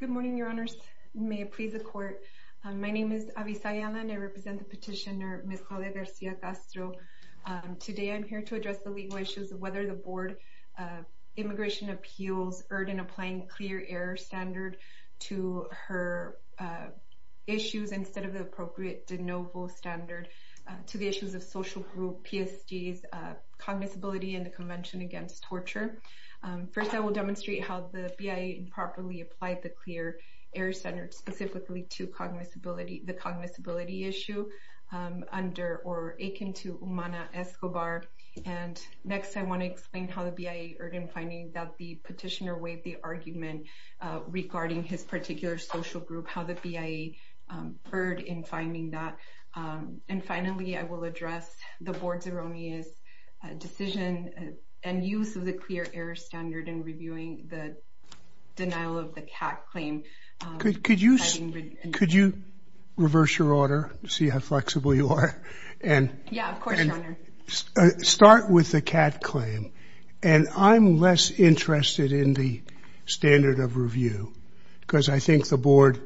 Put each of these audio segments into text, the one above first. Good morning, your honors. May it please the court. My name is Avisayala and I represent the petitioner Ms. Claudia Garcia Castro. Today I'm here to address the legal issues of whether the Board of Immigration Appeals erred in applying a clear error standard to her issues instead of the appropriate de novo standard to the issues of social group, PSDs, cognizability, and the Convention Against Torture. First, I will demonstrate how the BIA improperly applied the clear error standard specifically to the cognizability issue under or akin to Umana Escobar. And next, I want to explain how the BIA erred in finding that the petitioner waived the argument regarding his particular social group, how the BIA erred in finding that. And finally, I will address the Board's erroneous decision and use of the clear error standard in reviewing the denial of the CAT claim. Could you reverse your order to see how flexible you are? And start with the CAT claim. And I'm less interested in the standard of review because I think the Board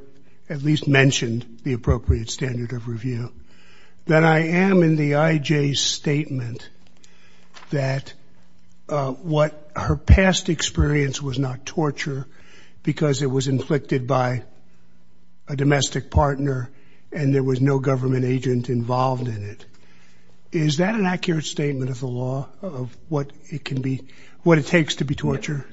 at least mentioned the appropriate standard of review than I am in the IJ's statement that what her past experience was not torture because it was inflicted by a domestic partner and there was no government agent involved in it. Is that an accurate statement of the law of what it can be, what it takes to be torture?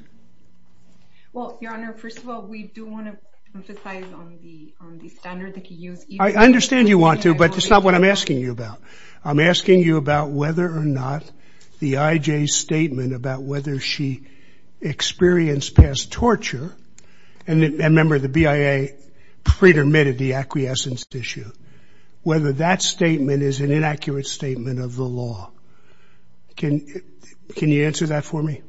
Well, Your Honor, first of all, we do want to emphasize on the standard that you use. I understand you want to, but that's not what I'm asking you about. I'm asking you about whether or the IJ's statement about whether she experienced past torture, and remember the BIA pretermitted the acquiescence issue, whether that statement is an inaccurate statement of the law. Can you answer that for me?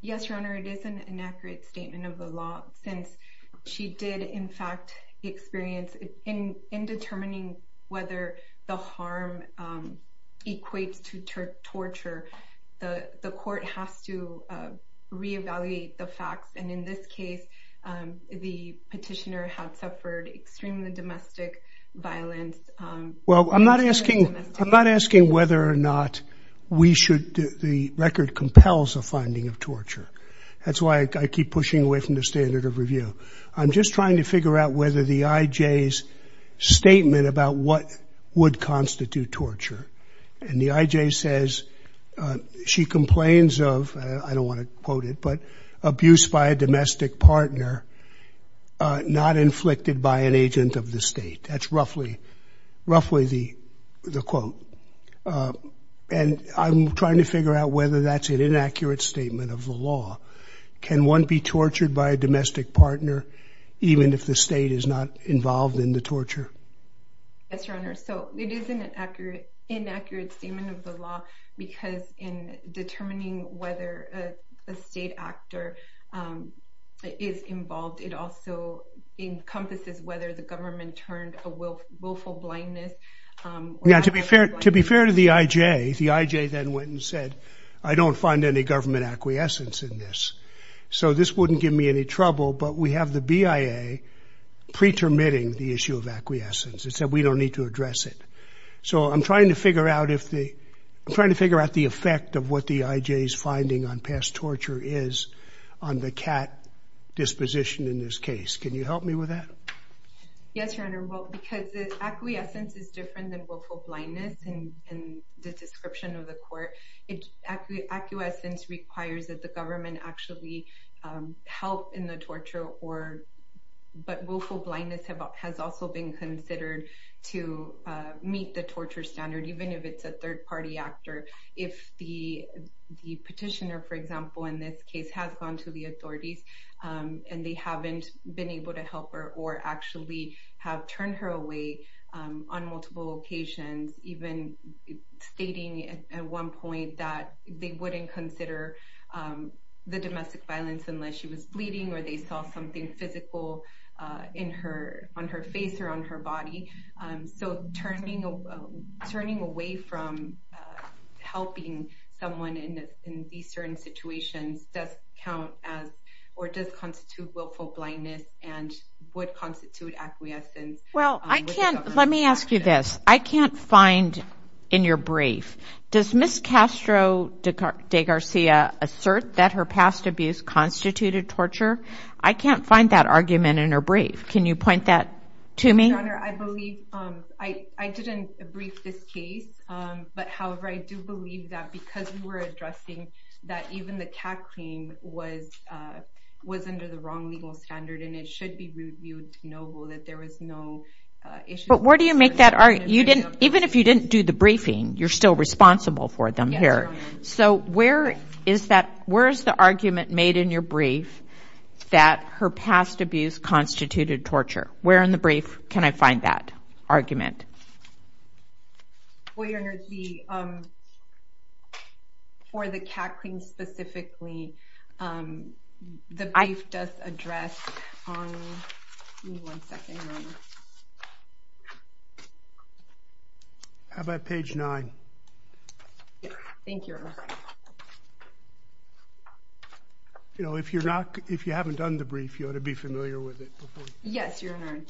Yes, Your Honor, it is an inaccurate statement of the law since she did, in fact, experience in determining whether the harm equates to torture, the court has to re-evaluate the facts. And in this case, the petitioner had suffered extremely domestic violence. Well, I'm not asking whether or not we should, the record compels a finding of torture. That's why I keep pushing away from the standard of review. I'm just trying to figure out whether the IJ's statement about what would constitute torture. And the IJ says she complains of, I don't want to quote it, but abuse by a domestic partner, not inflicted by an agent of the state. That's roughly the quote. And I'm trying to figure out whether that's an inaccurate statement of the law. Can one be tortured by a domestic partner, even if the state is not involved in the torture? Yes, Your Honor, so it is an inaccurate statement of the law, because in determining whether a state actor is involved, it also encompasses whether the government turned a willful blindness. Yeah, to be fair to the IJ, the IJ then went and said, I don't find any government acquiescence in this. So this wouldn't give me any trouble, but we have the BIA pretermitting the issue of acquiescence. It said we don't need to address it. So I'm trying to figure out if the, I'm trying to figure out the effect of what the IJ's finding on past torture is on the CAT disposition in this case. Can you help me with that? Yes, Your Honor. Well, because the acquiescence is different than willful blindness in the description of the court, acquiescence requires that the government actually help in the torture or, but willful blindness has also been considered to meet the torture standard, even if it's a third party actor. If the petitioner, for example, in this case has gone to the authorities, and they haven't been able to help her or actually have turned her away on multiple occasions, even stating at one point that they wouldn't consider the domestic violence unless she was bleeding or they saw something physical on her face or on her body. So turning away from helping someone in these certain situations does count as, or does constitute willful blindness and would constitute acquiescence. Well, I can't, let me ask you this. I can't find in your brief, does Ms. Castro de Garcia assert that her past abuse constituted torture? I can't find that argument in her brief. Can you point that to me? Your Honor, I believe, I didn't brief this case. But however, I do believe that because we were addressing that even the CAT was under the wrong legal standard and it should be reviewed to know that there was no issue. But where do you make that argument? You didn't, even if you didn't do the briefing, you're still responsible for them here. So where is that, where's the argument made in your brief that her past abuse constituted torture? Where in the brief can I find that argument? Well, Your Honor, the, for the CAT claim specifically, the brief does address on, give me one second, Your Honor. How about page nine? Thank you, Your Honor. You know, if you're not, if you haven't done the brief, you ought to be familiar with it. Yes, Your Honor.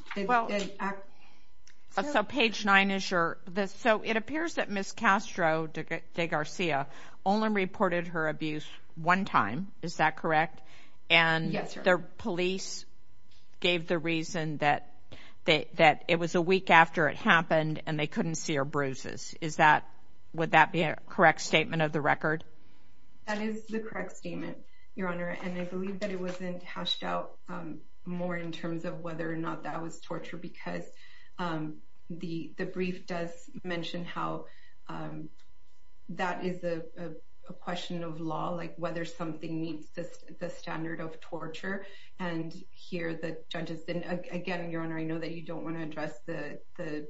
So page nine is your, so it appears that Ms. Castro de Garcia only reported her abuse one time. Is that correct? And the police gave the reason that they, that it was a week after it happened and they couldn't see her bruises. Is that, would that be a correct statement of the record? That is the correct statement, Your Honor. And I believe that it wasn't hashed out more in terms of whether or not that was torture because the brief does mention how that is a question of law, like whether something meets the standard of torture. And here, the judges didn't, again, Your Honor, I know that you don't want to address the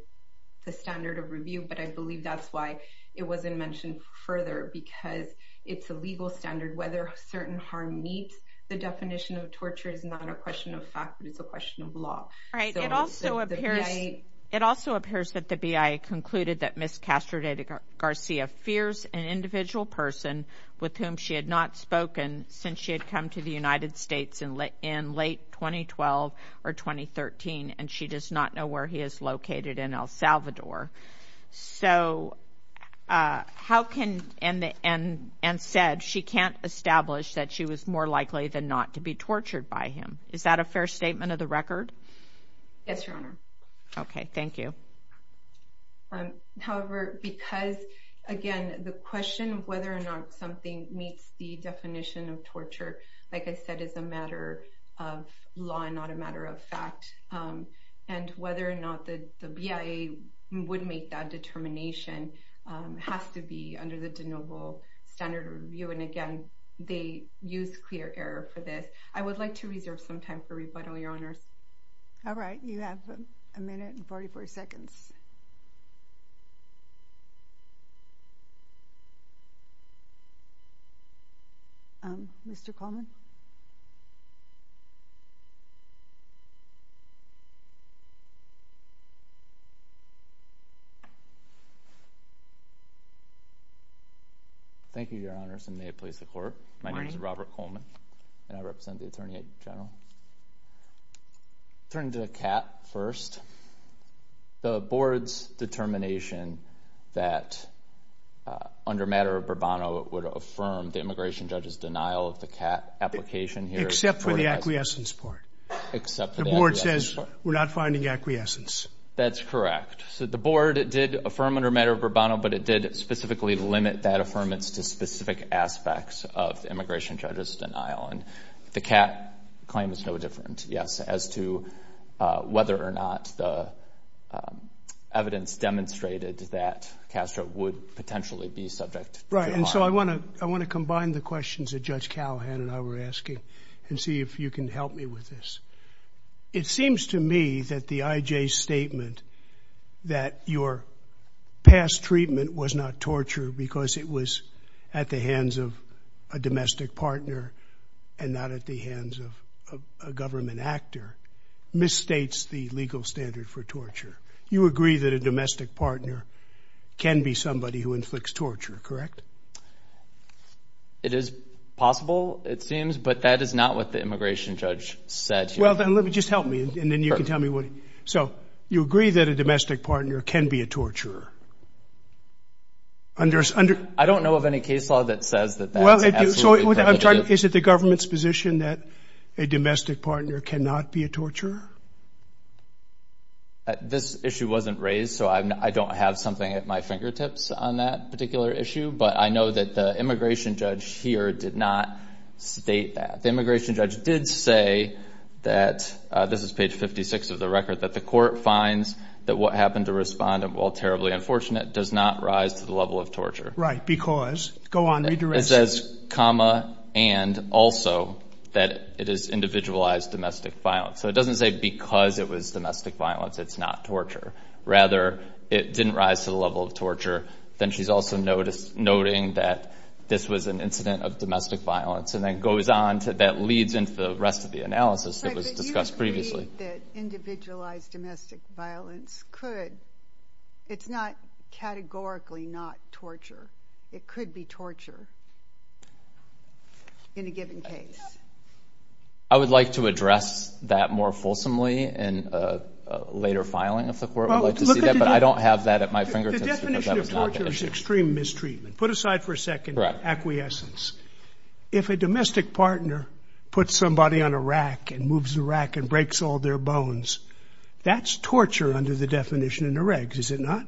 standard of review, but I believe that's why it wasn't mentioned further because it's a legal standard. Whether a certain harm meets the definition of torture is not a question of fact, it's a question of law. All right. It also appears, it also appears that the BIA concluded that Ms. Castro de Garcia fears an individual person with whom she had not spoken since she had come to the United States in late 2012 or 2013 and she does not know where he is located in El Salvador. So, how can, and said she can't establish that she was more likely than not to be tortured by him. Is that a fair statement of the record? Yes, Your Honor. Okay, thank you. However, because, again, the question of whether or not something meets the definition of torture, like I said, is a matter of law and not a matter of fact. And whether or not the BIA would make that determination has to be under the de novo standard of review. And again, they use clear error for this. I would like to reserve some time for rebuttal, Your Honor. All right. You have a minute and 44 seconds. Mr. Coleman? Thank you, Your Honors, and may it please the Court. My name is Robert Coleman and I represent the Attorney General. Turning to the CAT first, the Board's determination that under matter of Burbano it would affirm the immigration judge's denial of the CAT application here. Except for the acquiescence part. Except for the acquiescence part. The Board says we're not finding acquiescence. That's correct. So, the Board did affirm under matter of Burbano, but it did specifically limit that affirmance to specific aspects of the immigration judge's denial. And the CAT claim is no different, yes, as to whether or not the evidence demonstrated that Castro would potentially be subject to trial. Right. And so, I want to combine the questions that Judge Callahan and I were asking and see if you can help me with this. It seems to me that the IJ's statement that your past treatment was not torture because it was at the hands of a domestic partner and not at the hands of a government actor, misstates the legal standard for torture. You agree that a domestic partner can be somebody who inflicts torture, correct? It is possible, it seems, but that is not what the immigration judge said. Well, then let me just help me and then you can tell me what. So, you agree that a domestic partner can be a torturer? I don't know of any case law that says that. Is it the government's position that a domestic partner cannot be a torturer? This issue wasn't raised, so I don't have something at my fingertips on that particular issue, but I know that the immigration judge here did not state that. The immigration judge did say that, this is page 56 of the record, that the court finds that what happened to respondant while terribly unfortunate does not rise to the level of torture. Right, because, go on, read the rest. It says, comma, and also that it is individualized domestic violence. So, it doesn't say because it was domestic violence it's not torture. Rather, it didn't rise to the level of torture. Then she's also noting that this was an incident of domestic violence and that leads into the rest of the analysis that was discussed previously. But you agree that individualized domestic violence could, it's not categorically not torture. It could be torture in a given case. I would like to address that more fulsomely in a later filing if the court would like to see that, but I don't have that at my fingertips because that was not the issue. The definition of torture is extreme mistreatment. Put aside for a second acquiescence. If a domestic partner puts somebody on a rack and moves the rack and breaks all their bones, that's torture under the definition in the regs, is it not?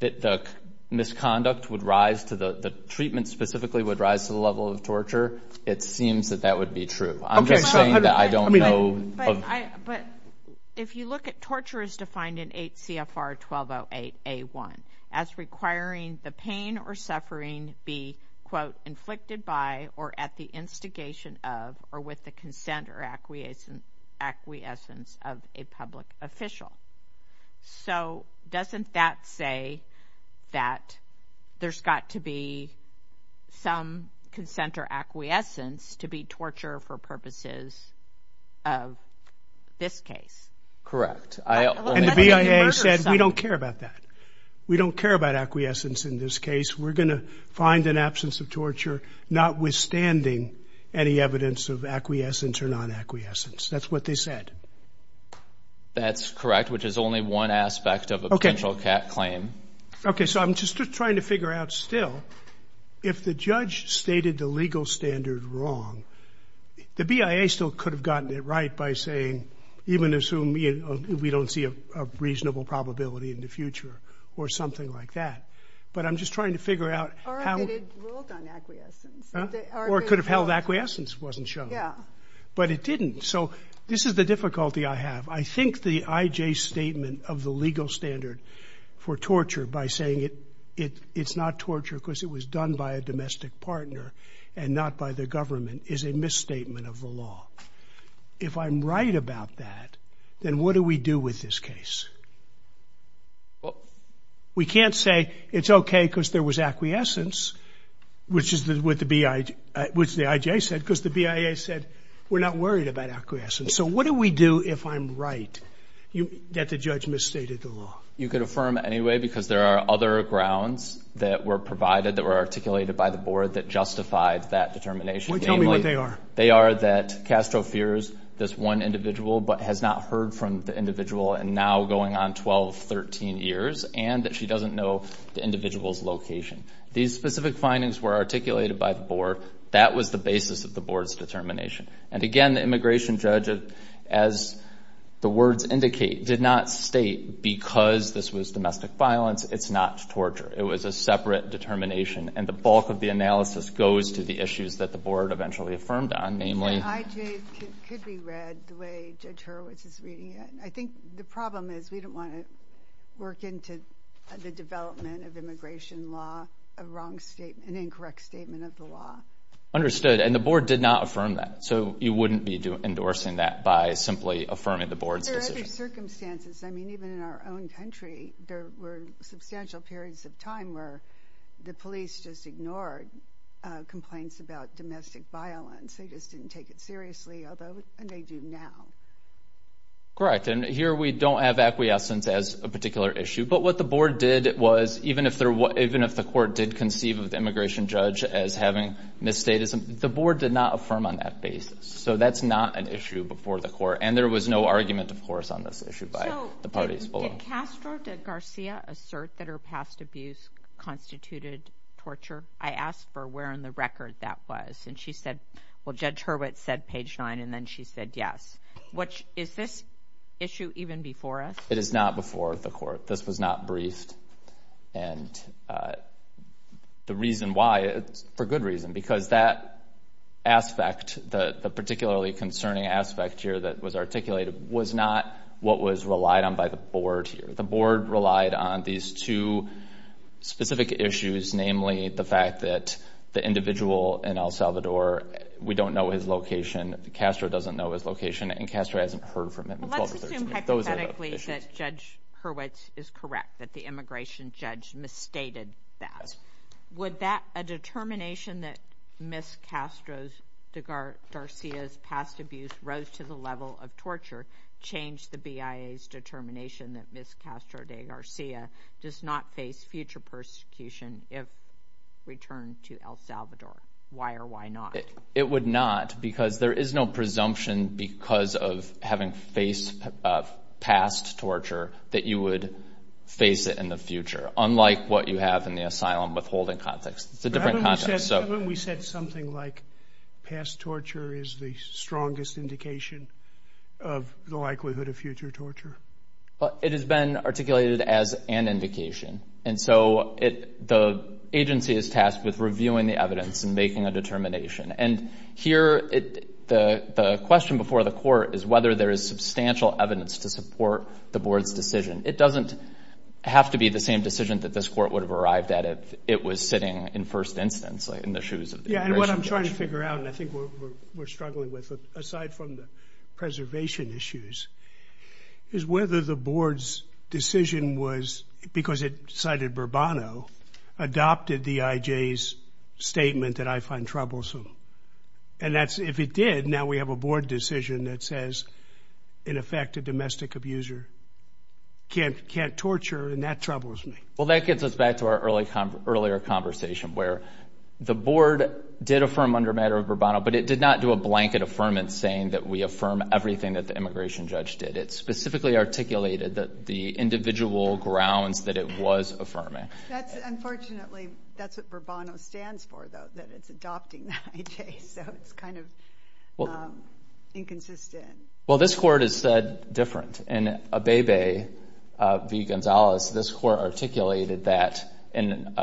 The misconduct would rise to the, the treatment specifically would rise to the level of torture. It seems that that would be true. I'm just saying that I don't know. But if you look at, torture is defined in 8 CFR 1208 A1 as requiring the pain or suffering be, quote, inflicted by or at the instigation of or with the consent or acquiescence of a public official. So doesn't that say that there's got to be some consent or acquiescence to be torture for purposes of this case? Correct. And the BIA said we don't care about that. We don't care about in this case, we're going to find an absence of torture, notwithstanding any evidence of acquiescence or non-acquiescence. That's what they said. That's correct. Which is only one aspect of a potential cap claim. Okay. So I'm just trying to figure out still, if the judge stated the legal standard wrong, the BIA still could have gotten it right by saying, even assume we don't see a reasonable probability in the future or something like that. But I'm just trying to figure out how it ruled on acquiescence. Or it could have held acquiescence wasn't shown. But it didn't. So this is the difficulty I have. I think the IJ statement of the legal standard for torture by saying it's not torture because it was done by a domestic partner and not by the government is a misstatement of the law. If I'm right about that, then what do we do with this case? We can't say it's okay because there was acquiescence, which is what the IJ said, because the BIA said we're not worried about acquiescence. So what do we do if I'm right that the judge misstated the law? You could affirm anyway, because there are other grounds that were provided that were articulated by the board that justified that determination. Well, tell me what they are. They are that Castro fears this one individual, but has not heard from the individual and now going on 12, 13 years, and that she doesn't know the individual's location. These specific findings were articulated by the board. That was the basis of the board's determination. And again, the immigration judge, as the words indicate, did not state because this was domestic violence, it's not torture. It was a separate determination. And the bulk of the analysis goes to the issues that the board eventually affirmed on, namely... The IJ could be read the way Judge Hurwitz is reading it. I think the problem is we don't want to work into the development of immigration law, a wrong statement, an incorrect statement of the law. Understood. And the board did not affirm that. So you wouldn't be endorsing that by simply affirming the board's decision. Under other circumstances, I mean, even in our own country, there were substantial periods of time where the police just ignored complaints about domestic violence. They just didn't take it seriously, although they do now. Correct. And here we don't have acquiescence as a particular issue. But what the board did was, even if the court did conceive of the immigration judge as having misstatism, the board did not on that basis. So that's not an issue before the court. And there was no argument, of course, on this issue by the parties below. So did Castro, did Garcia assert that her past abuse constituted torture? I asked for where in the record that was. And she said, well, Judge Hurwitz said page nine, and then she said yes. Is this issue even before us? It is not before the court. This was not briefed. And the reason why, it's for good reason, because that aspect, the particularly concerning aspect here that was articulated, was not what was relied on by the board here. The board relied on these two specific issues, namely the fact that the individual in El Salvador, we don't know his location, Castro doesn't know his location, and Castro hasn't heard from him. But let's assume hypothetically that Judge Hurwitz is correct, that the immigration judge misstated that. Would that, a determination that Ms. Castro's, Garcia's past abuse rose to the level of torture, change the BIA's determination that Ms. Castro de Garcia does not face future persecution if returned to El Salvador? Why or why not? It would not, because there is no presumption because of having faced past torture that you would face it in the future, unlike what you have in the asylum withholding context. It's a different context. Haven't we said something like past torture is the strongest indication of the likelihood of future torture? It has been articulated as an indication. And so, the agency is tasked with reviewing the evidence and making a determination. And here, the question before the court is whether there is substantial evidence to support the board's decision. It doesn't have to be the same decision that this court would have arrived at if it was sitting in first instance, in the shoes of the- Yeah, and what I'm trying to figure out, and I think we're struggling with, aside from the preservation issues, is whether the board's decision was, because it cited Burbano, adopted the IJ's statement that I find troublesome. And that's, if it did, now we have a board decision that says, in effect, a domestic abuser can't torture, and that troubles me. Well, that gets us back to our earlier conversation, where the board did affirm under matter of Burbano, but it did not do a blanket affirmance saying that we affirm everything that the immigration judge did. It specifically articulated the individual grounds that it was affirming. That's, unfortunately, that's what Burbano stands for, though, that it's adopting the IJ. So, it's kind of inconsistent. Well, this court has said different. In Abebe v. Gonzalez, this court articulated that in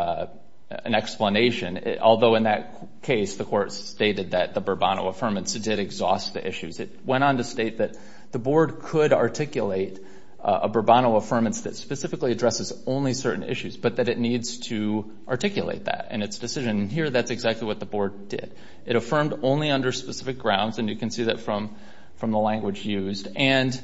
an explanation, although in that case, the court stated that the Burbano affirmance did exhaust the issues. It went on to state that the board could articulate a Burbano affirmance that specifically addresses only certain issues, but that it needs to articulate that in its decision. Here, that's exactly what the board did. It affirmed only under specific grounds, and you can see that from the language used, and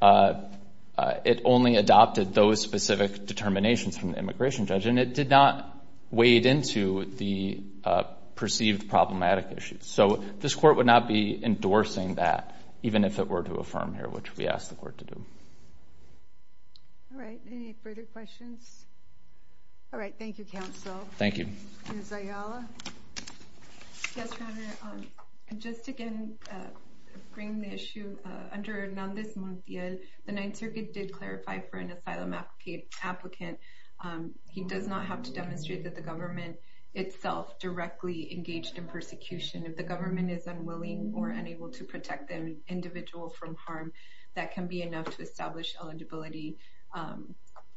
it only adopted those specific determinations from the immigration judge, and it did not wade into the perceived problematic issues. So, this court would not be endorsing that, even if it were to affirm here, which we asked the court to do. All right. Any further questions? All right. Thank you, counsel. Thank you. Ms. Ayala? Yes, Your Honor. Just again, bringing the issue, under Hernández Montiel, the Ninth Circuit did clarify for an asylum applicant, he does not have to demonstrate that the government itself directly engaged in persecution. If the government is unwilling or unable to protect an individual from harm, that can be enough to establish eligibility.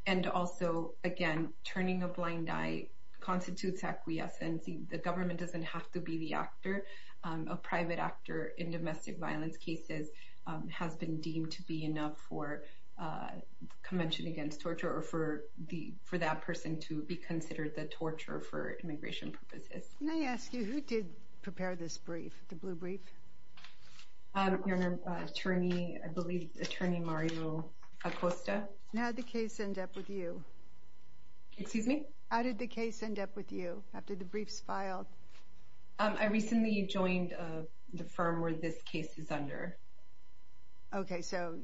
And also, again, turning a blind eye constitutes acquiescence. The government doesn't have to be the actor. A private actor in domestic violence cases has been deemed to be enough for convention against torture or for that person to be considered the torture for immigration purposes. May I ask you, who did prepare this brief, the blue brief? Your Honor, attorney, I believe, attorney Mario Acosta. And how did the case end up with you? Excuse me? How did the case end up with you, after the brief's filed? I recently joined the firm where this case is under. Okay. So,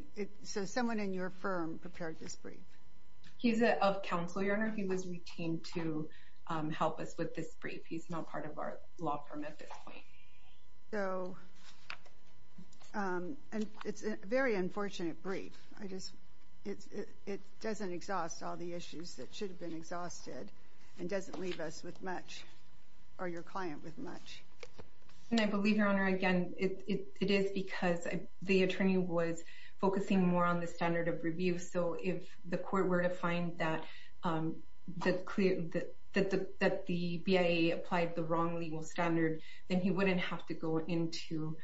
someone in your firm prepared this brief? He's of counsel, Your Honor. He was retained to help us with this brief. He's not part of our law firm at this point. So, and it's a very unfortunate brief. It doesn't exhaust all the issues that should have been exhausted and doesn't leave us with much, or your client with much. And I believe, Your Honor, again, it is because the attorney was focusing more on the court where to find that the BIA applied the wrong legal standard, then he wouldn't have to go into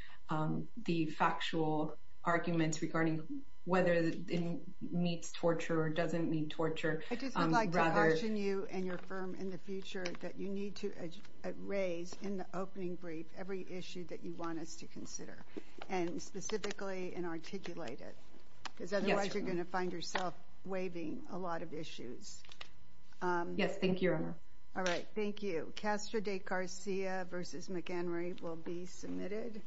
the factual arguments regarding whether it meets torture or doesn't meet torture. I just would like to caution you and your firm in the future that you need to raise in the opening brief every issue that you want us to consider, and specifically and articulate it, because otherwise you're going to find yourself waiving a lot of issues. Yes, thank you, Your Honor. All right. Thank you. Castro de Garcia v. McHenry will be submitted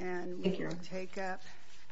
and we will take up.